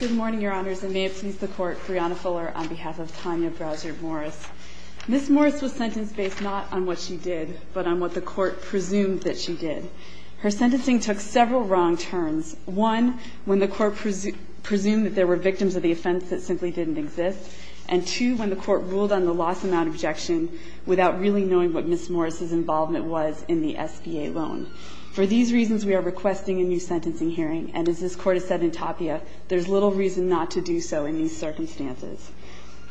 Good morning, Your Honors, and may it please the Court, Brianna Fuller on behalf of Tanya Browser Morris. Ms. Morris was sentenced based not on what she did, but on what the Court presumed that she did. Her sentencing took several wrong turns. One, when the Court presumed that there were victims of the offense that simply didn't exist, and two, when the Court ruled on the lost amount objection without really knowing what Ms. Morris' involvement was in the SBA loan. For these reasons, we are requesting a new sentencing hearing, and as this Court has said in Tapia, there's little reason not to do so in these circumstances.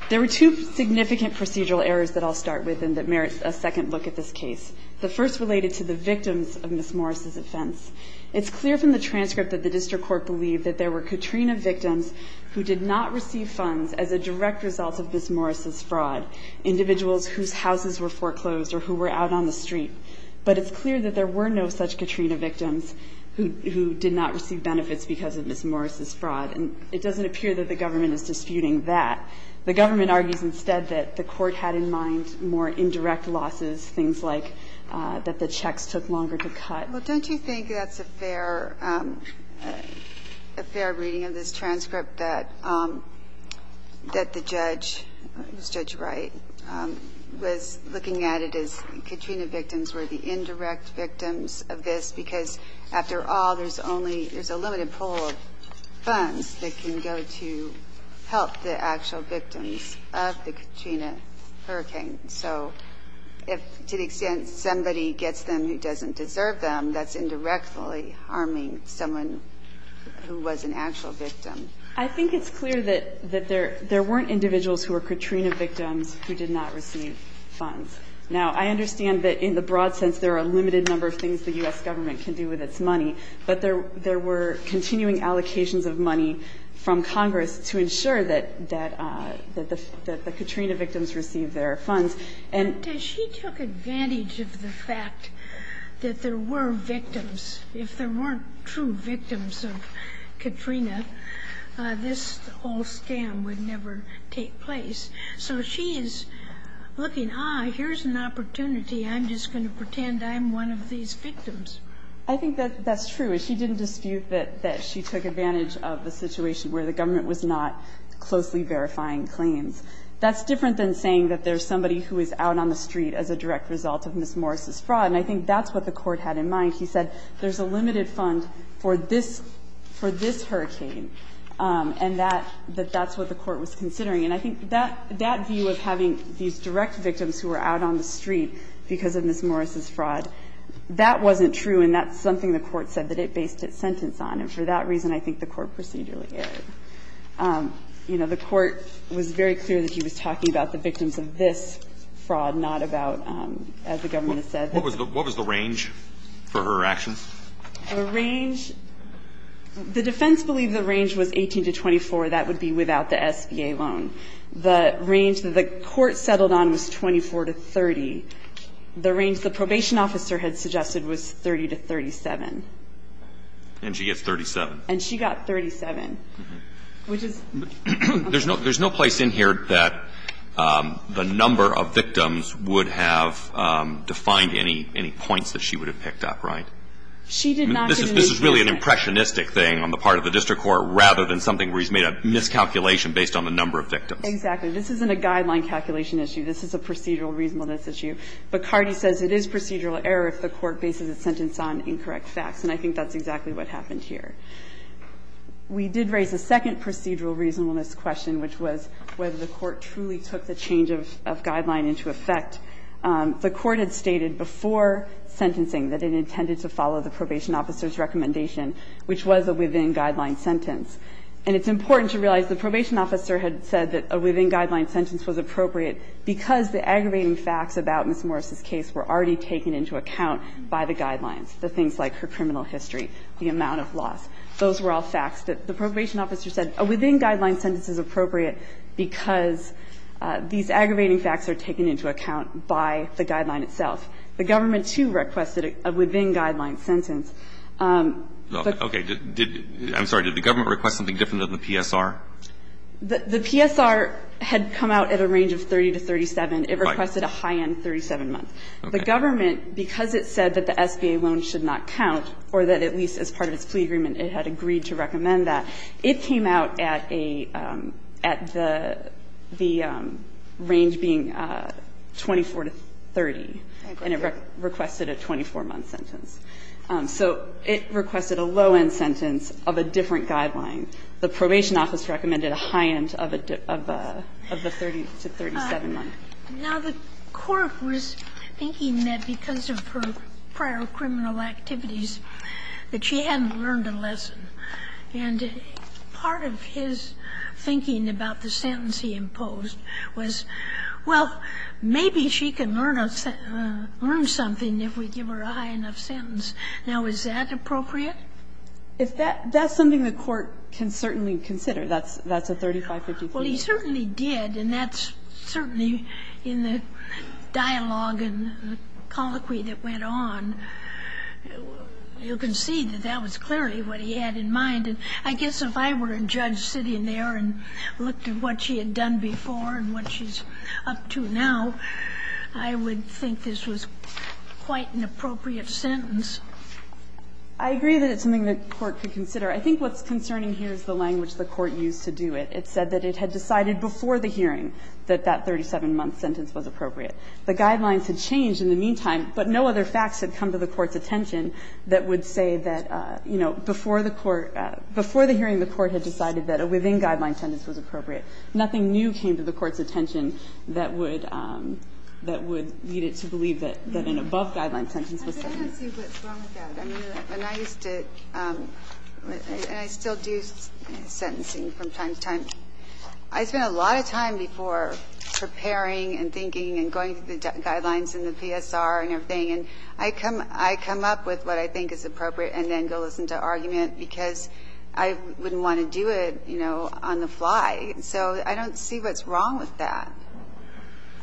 There were two significant procedural errors that I'll start with and that merits a second look at this case. The first related to the victims of Ms. Morris' offense. It's clear from the transcript that the District Court believed that there were Katrina victims who did not receive funds as a direct result of Ms. Morris' fraud, individuals whose houses were foreclosed or who were out on the street. But it's clear that there were no such Katrina victims who did not receive benefits because of Ms. Morris' fraud. And it doesn't appear that the government is disputing that. The government argues instead that the Court had in mind more indirect losses, things like that the checks took longer to cut. Well, don't you think that's a fair reading of this transcript, that the judge, Judge Wright, was looking at it as Katrina victims were the indirect victims of this because after all, there's a limited pool of funds that can go to help the actual victims of the Katrina hurricane. So if to the extent somebody gets them who doesn't deserve them, that's indirectly harming someone who was an actual victim. I think it's clear that there weren't individuals who were Katrina victims who did not receive funds. Now, I understand that in the broad sense there are a limited number of things the U.S. government can do with its money, but there were continuing allocations of money from Congress to ensure that the Katrina victims received their funds, and... But she took advantage of the fact that there were victims. If there weren't true victims of Katrina, this whole scam would never take place. So she is looking, ah, here's an opportunity. I'm just going to pretend I'm one of these victims. I think that's true. She didn't dispute that she took advantage of the situation where the government was not closely verifying claims. That's different than saying that there's somebody who is out on the street as a direct result of Ms. Morris' fraud. And I think that's what the Court had in mind. She said there's a limited fund for this hurricane, and that that's what the Court was considering. And I think that view of having these direct victims who are out on the street because of Ms. Morris' fraud, that wasn't true, and that's something the Court said that it based its sentence on. And for that reason, I think the Court procedurally erred. You know, the Court was very clear that she was talking about the victims of this fraud, not about, as the government has said. What was the range for her actions? The range, the defense believed the range was 18 to 24. That would be without the SBA loan. The range that the Court settled on was 24 to 30. The range the probation officer had suggested was 30 to 37. And she gets 37. And she got 37. There's no place in here that the number of victims would have defined any points that she would have picked up, right? This is really an impressionistic thing on the part of the district court rather than something where he's made a miscalculation based on the number of victims. Exactly. This isn't a guideline calculation issue. This is a procedural reasonableness issue. But Cardi says it is procedural error if the Court bases its sentence on incorrect facts, and I think that's exactly what happened here. We did raise a second procedural reasonableness question, which was whether the Court truly took the change of guideline into effect. The Court had stated before sentencing that it intended to follow the probation officer's recommendation, which was a within-guideline sentence. And it's important to realize the probation officer had said that a within-guideline sentence was appropriate because the aggravating facts about Ms. Morris' case were already taken into account by the guidelines, the things like her criminal history, the amount of loss. Those were all facts. The probation officer said a within-guideline sentence is appropriate because these aggravating facts are taken into account by the guideline itself. The government, too, requested a within-guideline sentence. Okay. I'm sorry. Did the government request something different than the PSR? The PSR had come out at a range of 30 to 37. Right. It requested a high-end 37 months. Okay. The government, because it said that the SBA loan should not count or that at least as part of its plea agreement it had agreed to recommend that, it came out at a at the range being 24 to 30. Okay. And it requested a 24-month sentence. So it requested a low-end sentence of a different guideline. The probation office recommended a high-end of a 30 to 37 month. Now, the Court was thinking that because of her prior criminal activities that she hadn't learned a lesson. And part of his thinking about the sentence he imposed was, well, maybe she can learn a sentence, learn something if we give her a high-enough sentence. Now, is that appropriate? That's something the Court can certainly consider. That's a 35-54. Well, he certainly did, and that's certainly in the dialogue and the colloquy that went on. You can see that that was clearly what he had in mind. And I guess if I were a judge sitting there and looked at what she had done before and what she's up to now, I would think this was quite an appropriate sentence. I agree that it's something the Court could consider. I think what's concerning here is the language the Court used to do it. It said that it had decided before the hearing that that 37-month sentence was appropriate. The guidelines had changed in the meantime, but no other facts had come to the Court's attention that would say that, you know, before the court – before the hearing, the Court had decided that a within-guideline sentence was appropriate. Nothing new came to the Court's attention that would lead it to believe that an above-guideline sentence was appropriate. I don't see what's wrong with that. I mean, when I used to – and I still do sentencing from time to time. I spent a lot of time before preparing and thinking and going through the guidelines and the PSR and everything. And I come up with what I think is appropriate and then go listen to argument because I wouldn't want to do it, you know, on the fly. So I don't see what's wrong with that.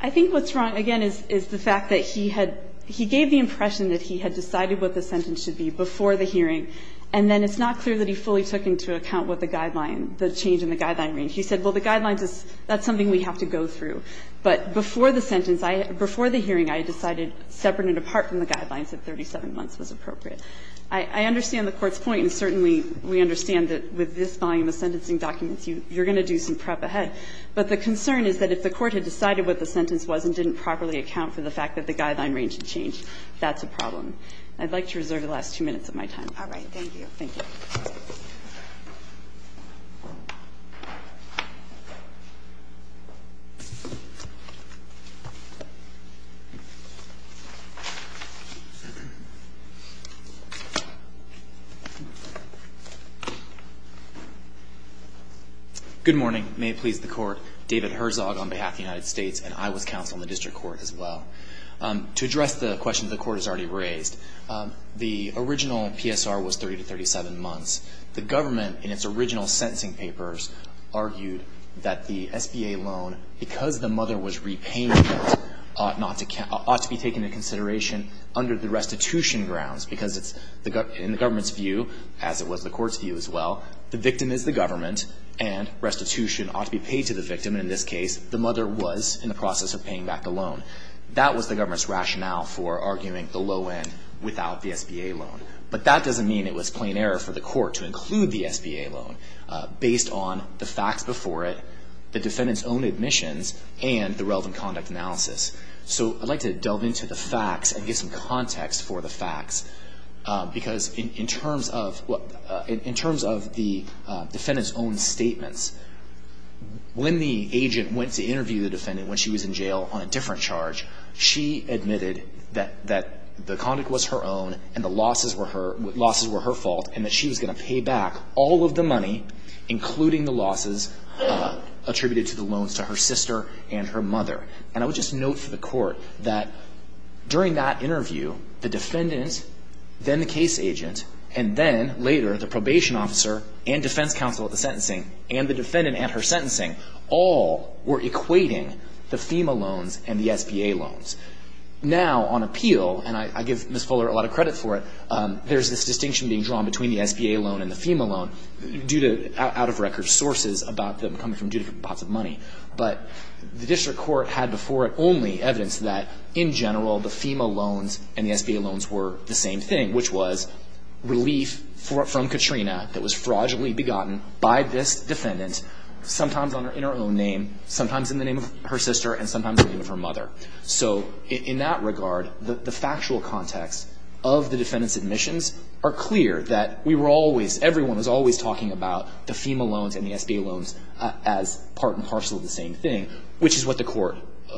I think what's wrong, again, is the fact that he had – he gave the impression that he had decided what the sentence should be before the hearing, and then it's not clear that he fully took into account what the guideline – the change in the guideline range. He said, well, the guidelines is – that's something we have to go through. But before the sentence, before the hearing, I decided separate and apart from the guidelines that 37 months was appropriate. I understand the Court's point, and certainly we understand that with this volume of sentencing documents, you're going to do some prep ahead. But the concern is that if the Court had decided what the sentence was and didn't properly account for the fact that the guideline range had changed, that's a problem. I'd like to reserve the last two minutes of my time. All right. Thank you. Good morning. May it please the Court. David Herzog on behalf of the United States, and I was counsel in the district court as well. To address the questions the Court has already raised, the original PSR was 30 to 37 months. The government, in its original sentencing papers, argued that the SBA loan, because the mother was repaying it, ought not to – ought to be taken into consideration under the restitution grounds, because it's – in the government's view, as it was the Court's view as well, the victim is the government, and restitution ought to be paid to the victim. And in this case, the mother was in the process of paying back the loan. That was the government's rationale for arguing the low end without the SBA loan. But that doesn't mean it was plain error for the Court to include the SBA loan based on the facts before it, the defendant's own admissions, and the relevant conduct analysis. So I'd like to delve into the facts and give some context for the facts, because in terms of – in terms of the defendant's own statements, when the agent went to interview the defendant when she was in jail on a different charge, she admitted that – that the conduct was her own, and the losses were her – losses were her fault, and that she was going to pay back all of the money, including the losses attributed to the loans to her sister and her mother. And I would just note for the Court that during that interview, the defendant, then the case agent, and then later the probation officer and defense counsel at the sentencing, and the defendant at her sentencing, all were equating the FEMA loans and the SBA loans. Now, on appeal, and I give Ms. Fuller a lot of credit for it, there's this distinction being drawn between the SBA loan and the FEMA loan due to out-of- record sources about them coming from different pots of money. But the District Court had before it only evidence that in general the FEMA loans and the SBA loans were the same thing, which was relief from Katrina that was fraudulently begotten by this defendant, sometimes in her own name, sometimes in the name of her sister, and sometimes in the name of her mother. So in that regard, the factual context of the defendant's admissions are clear that we were always, everyone was always talking about the FEMA loans and the SBA loans as part and parcel of the same thing, which is what the Court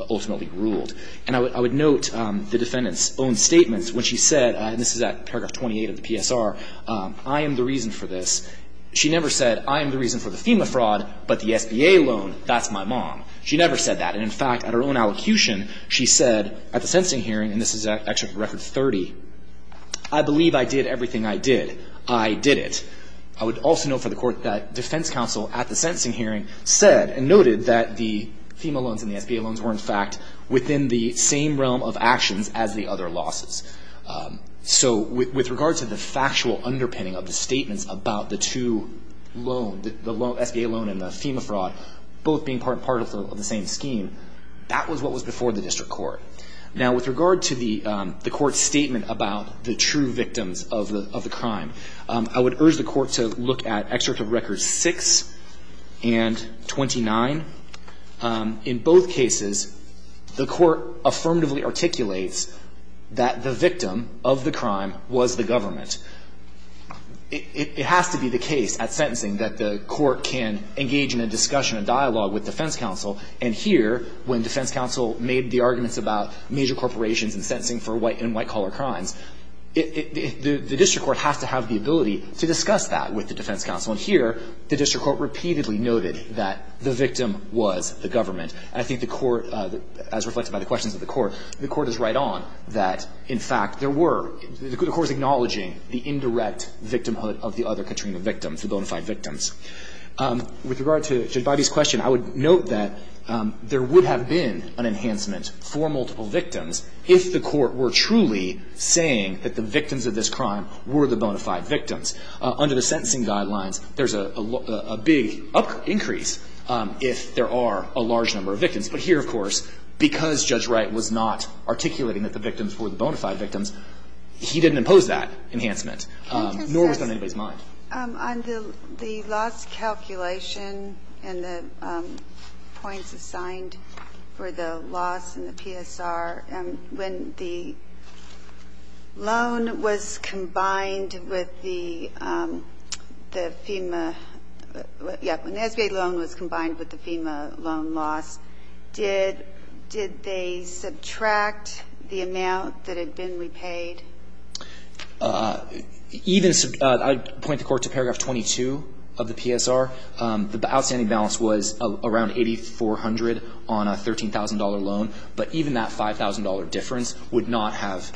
ultimately ruled. And I would note the defendant's own statements when she said, and this is at paragraph 28 of the PSR, I am the reason for this. She never said, I am the reason for the FEMA fraud, but the SBA loan, that's my mom. She never said that. And in fact, at her own allocution, she said at the sentencing hearing, and this is at record 30, I believe I did everything I did. I did it. I would also note for the Court that defense counsel at the sentencing hearing said and noted that the FEMA loans and the SBA loans were in fact within the same realm of actions as the other losses. So with regard to the factual underpinning of the statements about the two loans, the SBA loan and the FEMA fraud both being part and parcel of the same scheme, that was what was before the district court. Now, with regard to the Court's statement about the true victims of the crime, I would urge the Court to look at Excerpt of Records 6 and 29. In both cases, the Court affirmatively articulates that the victim of the crime was the government. It has to be the case at sentencing that the Court can engage in a discussion and dialogue with defense counsel. And here, when defense counsel made the arguments about major corporations and sentencing for white and white-collar crimes, the district court has to have the ability to discuss that with the defense counsel. And here, the district court repeatedly noted that the victim was the government. And I think the Court, as reflected by the questions of the Court, the Court is right on that, in fact, there were. The Court is acknowledging the indirect victimhood of the other Katrina victims, the bona fide victims. With regard to Judge Bidey's question, I would note that there would have been an enhancement for multiple victims if the Court were truly saying that the victims of this crime were the bona fide victims. Under the sentencing guidelines, there's a big increase if there are a large number of victims. But here, of course, because Judge Wright was not articulating that the victims were the bona fide victims, he didn't impose that enhancement, nor was it on anybody's mind. On the loss calculation and the points assigned for the loss in the PSR, when the loan was combined with the FEMA – yeah, when the SBA loan was combined with the PSR, did they subtract the amount that had been repaid? Even – I'd point the Court to paragraph 22 of the PSR. The outstanding balance was around $8,400 on a $13,000 loan, but even that $5,000 difference would not have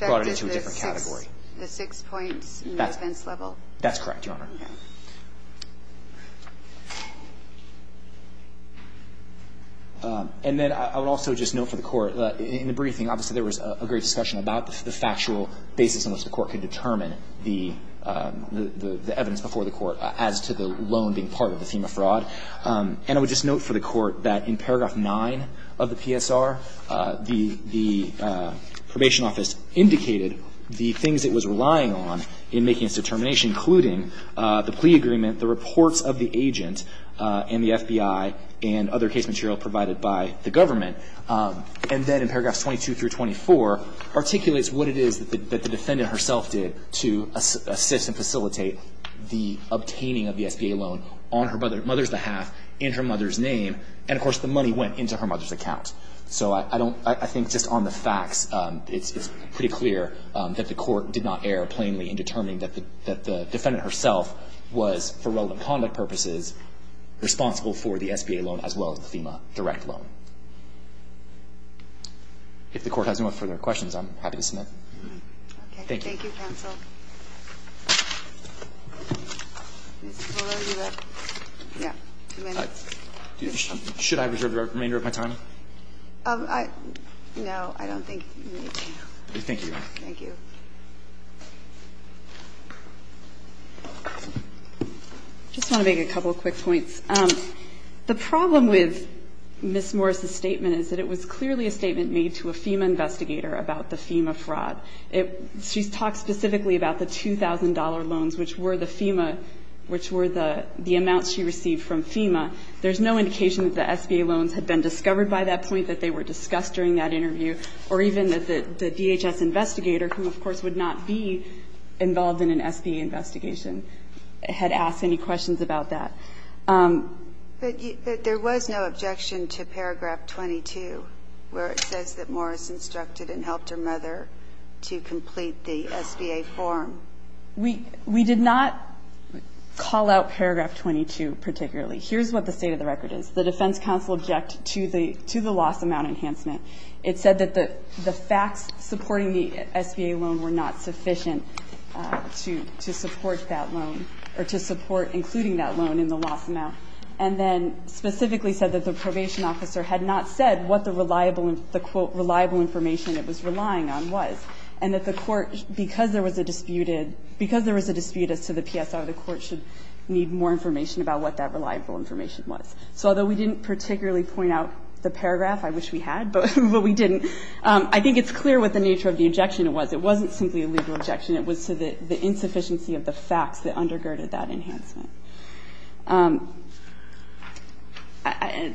brought it into a different category. It wouldn't have affected the six points in the defense level? That's correct, Your Honor. Okay. And then I would also just note for the Court, in the briefing, obviously, there was a great discussion about the factual basis on which the Court could determine the evidence before the Court as to the loan being part of the FEMA fraud. And I would just note for the Court that in paragraph 9 of the PSR, the Probation Office indicated the things it was relying on in making its determination, which including the plea agreement, the reports of the agent, and the FBI, and other case material provided by the government. And then in paragraphs 22 through 24, articulates what it is that the defendant herself did to assist and facilitate the obtaining of the SBA loan on her mother's behalf, in her mother's name, and, of course, the money went into her mother's account. So I don't – I think just on the facts, it's pretty clear that the Court did not interfere plainly in determining that the defendant herself was, for relevant conduct purposes, responsible for the SBA loan as well as the FEMA direct loan. If the Court has no further questions, I'm happy to submit. Okay. Thank you. Thank you, counsel. Should I reserve the remainder of my time? No, I don't think you need to. Thank you. Thank you. I just want to make a couple of quick points. The problem with Ms. Morris's statement is that it was clearly a statement made to a FEMA investigator about the FEMA fraud. She's talked specifically about the $2,000 loans, which were the FEMA – which were the amounts she received from FEMA. There's no indication that the SBA loans had been discovered by that point, that they were discussed during that interview, or even that the DHS investigator who, of course, would not be involved in an SBA investigation had asked any questions about that. But there was no objection to paragraph 22, where it says that Morris instructed and helped her mother to complete the SBA form. We did not call out paragraph 22 particularly. Here's what the state of the record is. The defense counsel object to the loss amount enhancement. It said that the facts supporting the SBA loan were not sufficient to support that loan, or to support including that loan in the loss amount. And then specifically said that the probation officer had not said what the quote, reliable information it was relying on was, and that the court, because there was a dispute as to the PSI, the court should need more information about what that reliable information was. So although we didn't particularly point out the paragraph, I wish we had, but we didn't, I think it's clear what the nature of the objection was. It wasn't simply a legal objection. It was to the insufficiency of the facts that undergirded that enhancement.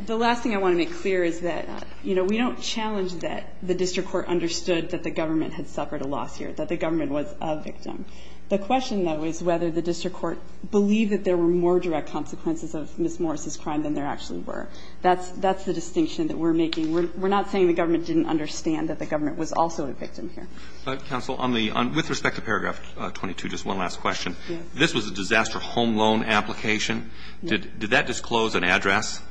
The last thing I want to make clear is that, you know, we don't challenge that the district court understood that the government had suffered a loss here, that the government was a victim. The question, though, is whether the district court believed that there were more direct consequences of Ms. Morris' crime than there actually were. That's the distinction that we're making. We're not saying the government didn't understand that the government was also a victim here. But, counsel, on the un – with respect to paragraph 22, just one last question. Yes. This was a disaster home loan application. Did that disclose an address?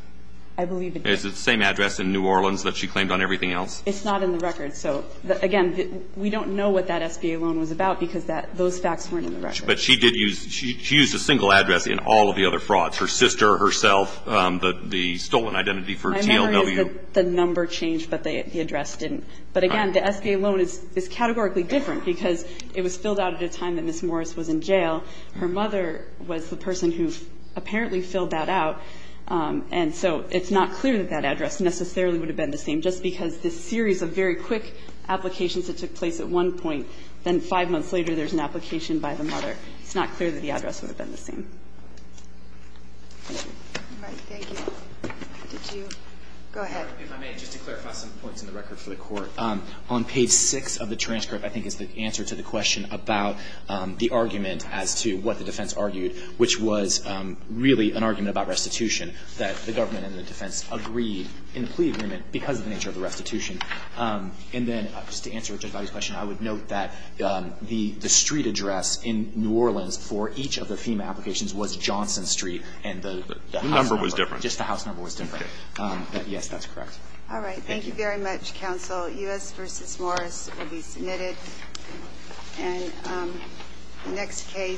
I believe it did. Is it the same address in New Orleans that she claimed on everything else? It's not in the record. So, again, we don't know what that SBA loan was about because that – those facts weren't in the record. But she did use – she used a single address in all of the other frauds, her sister, herself, the stolen identity for TLW. My memory is that the number changed, but the address didn't. But, again, the SBA loan is categorically different because it was filled out at a time that Ms. Morris was in jail. Her mother was the person who apparently filled that out. And so it's not clear that that address necessarily would have been the same, just because this series of very quick applications that took place at one point, then five months later there's an application by the mother. It's not clear that the address would have been the same. Thank you. All right. Thank you. Did you – go ahead. If I may, just to clarify some points in the record for the Court. On page 6 of the transcript, I think, is the answer to the question about the argument as to what the defense argued, which was really an argument about restitution, that the government and the defense agreed in the plea agreement because of the nature of the restitution. And then, just to answer a judge's question, I would note that the street address in New Orleans for each of the FEMA applications was Johnson Street and the house number. The number was different. Just the house number was different. Okay. But, yes, that's correct. All right. Thank you very much, counsel. U.S. v. Morris will be submitted. And the next case.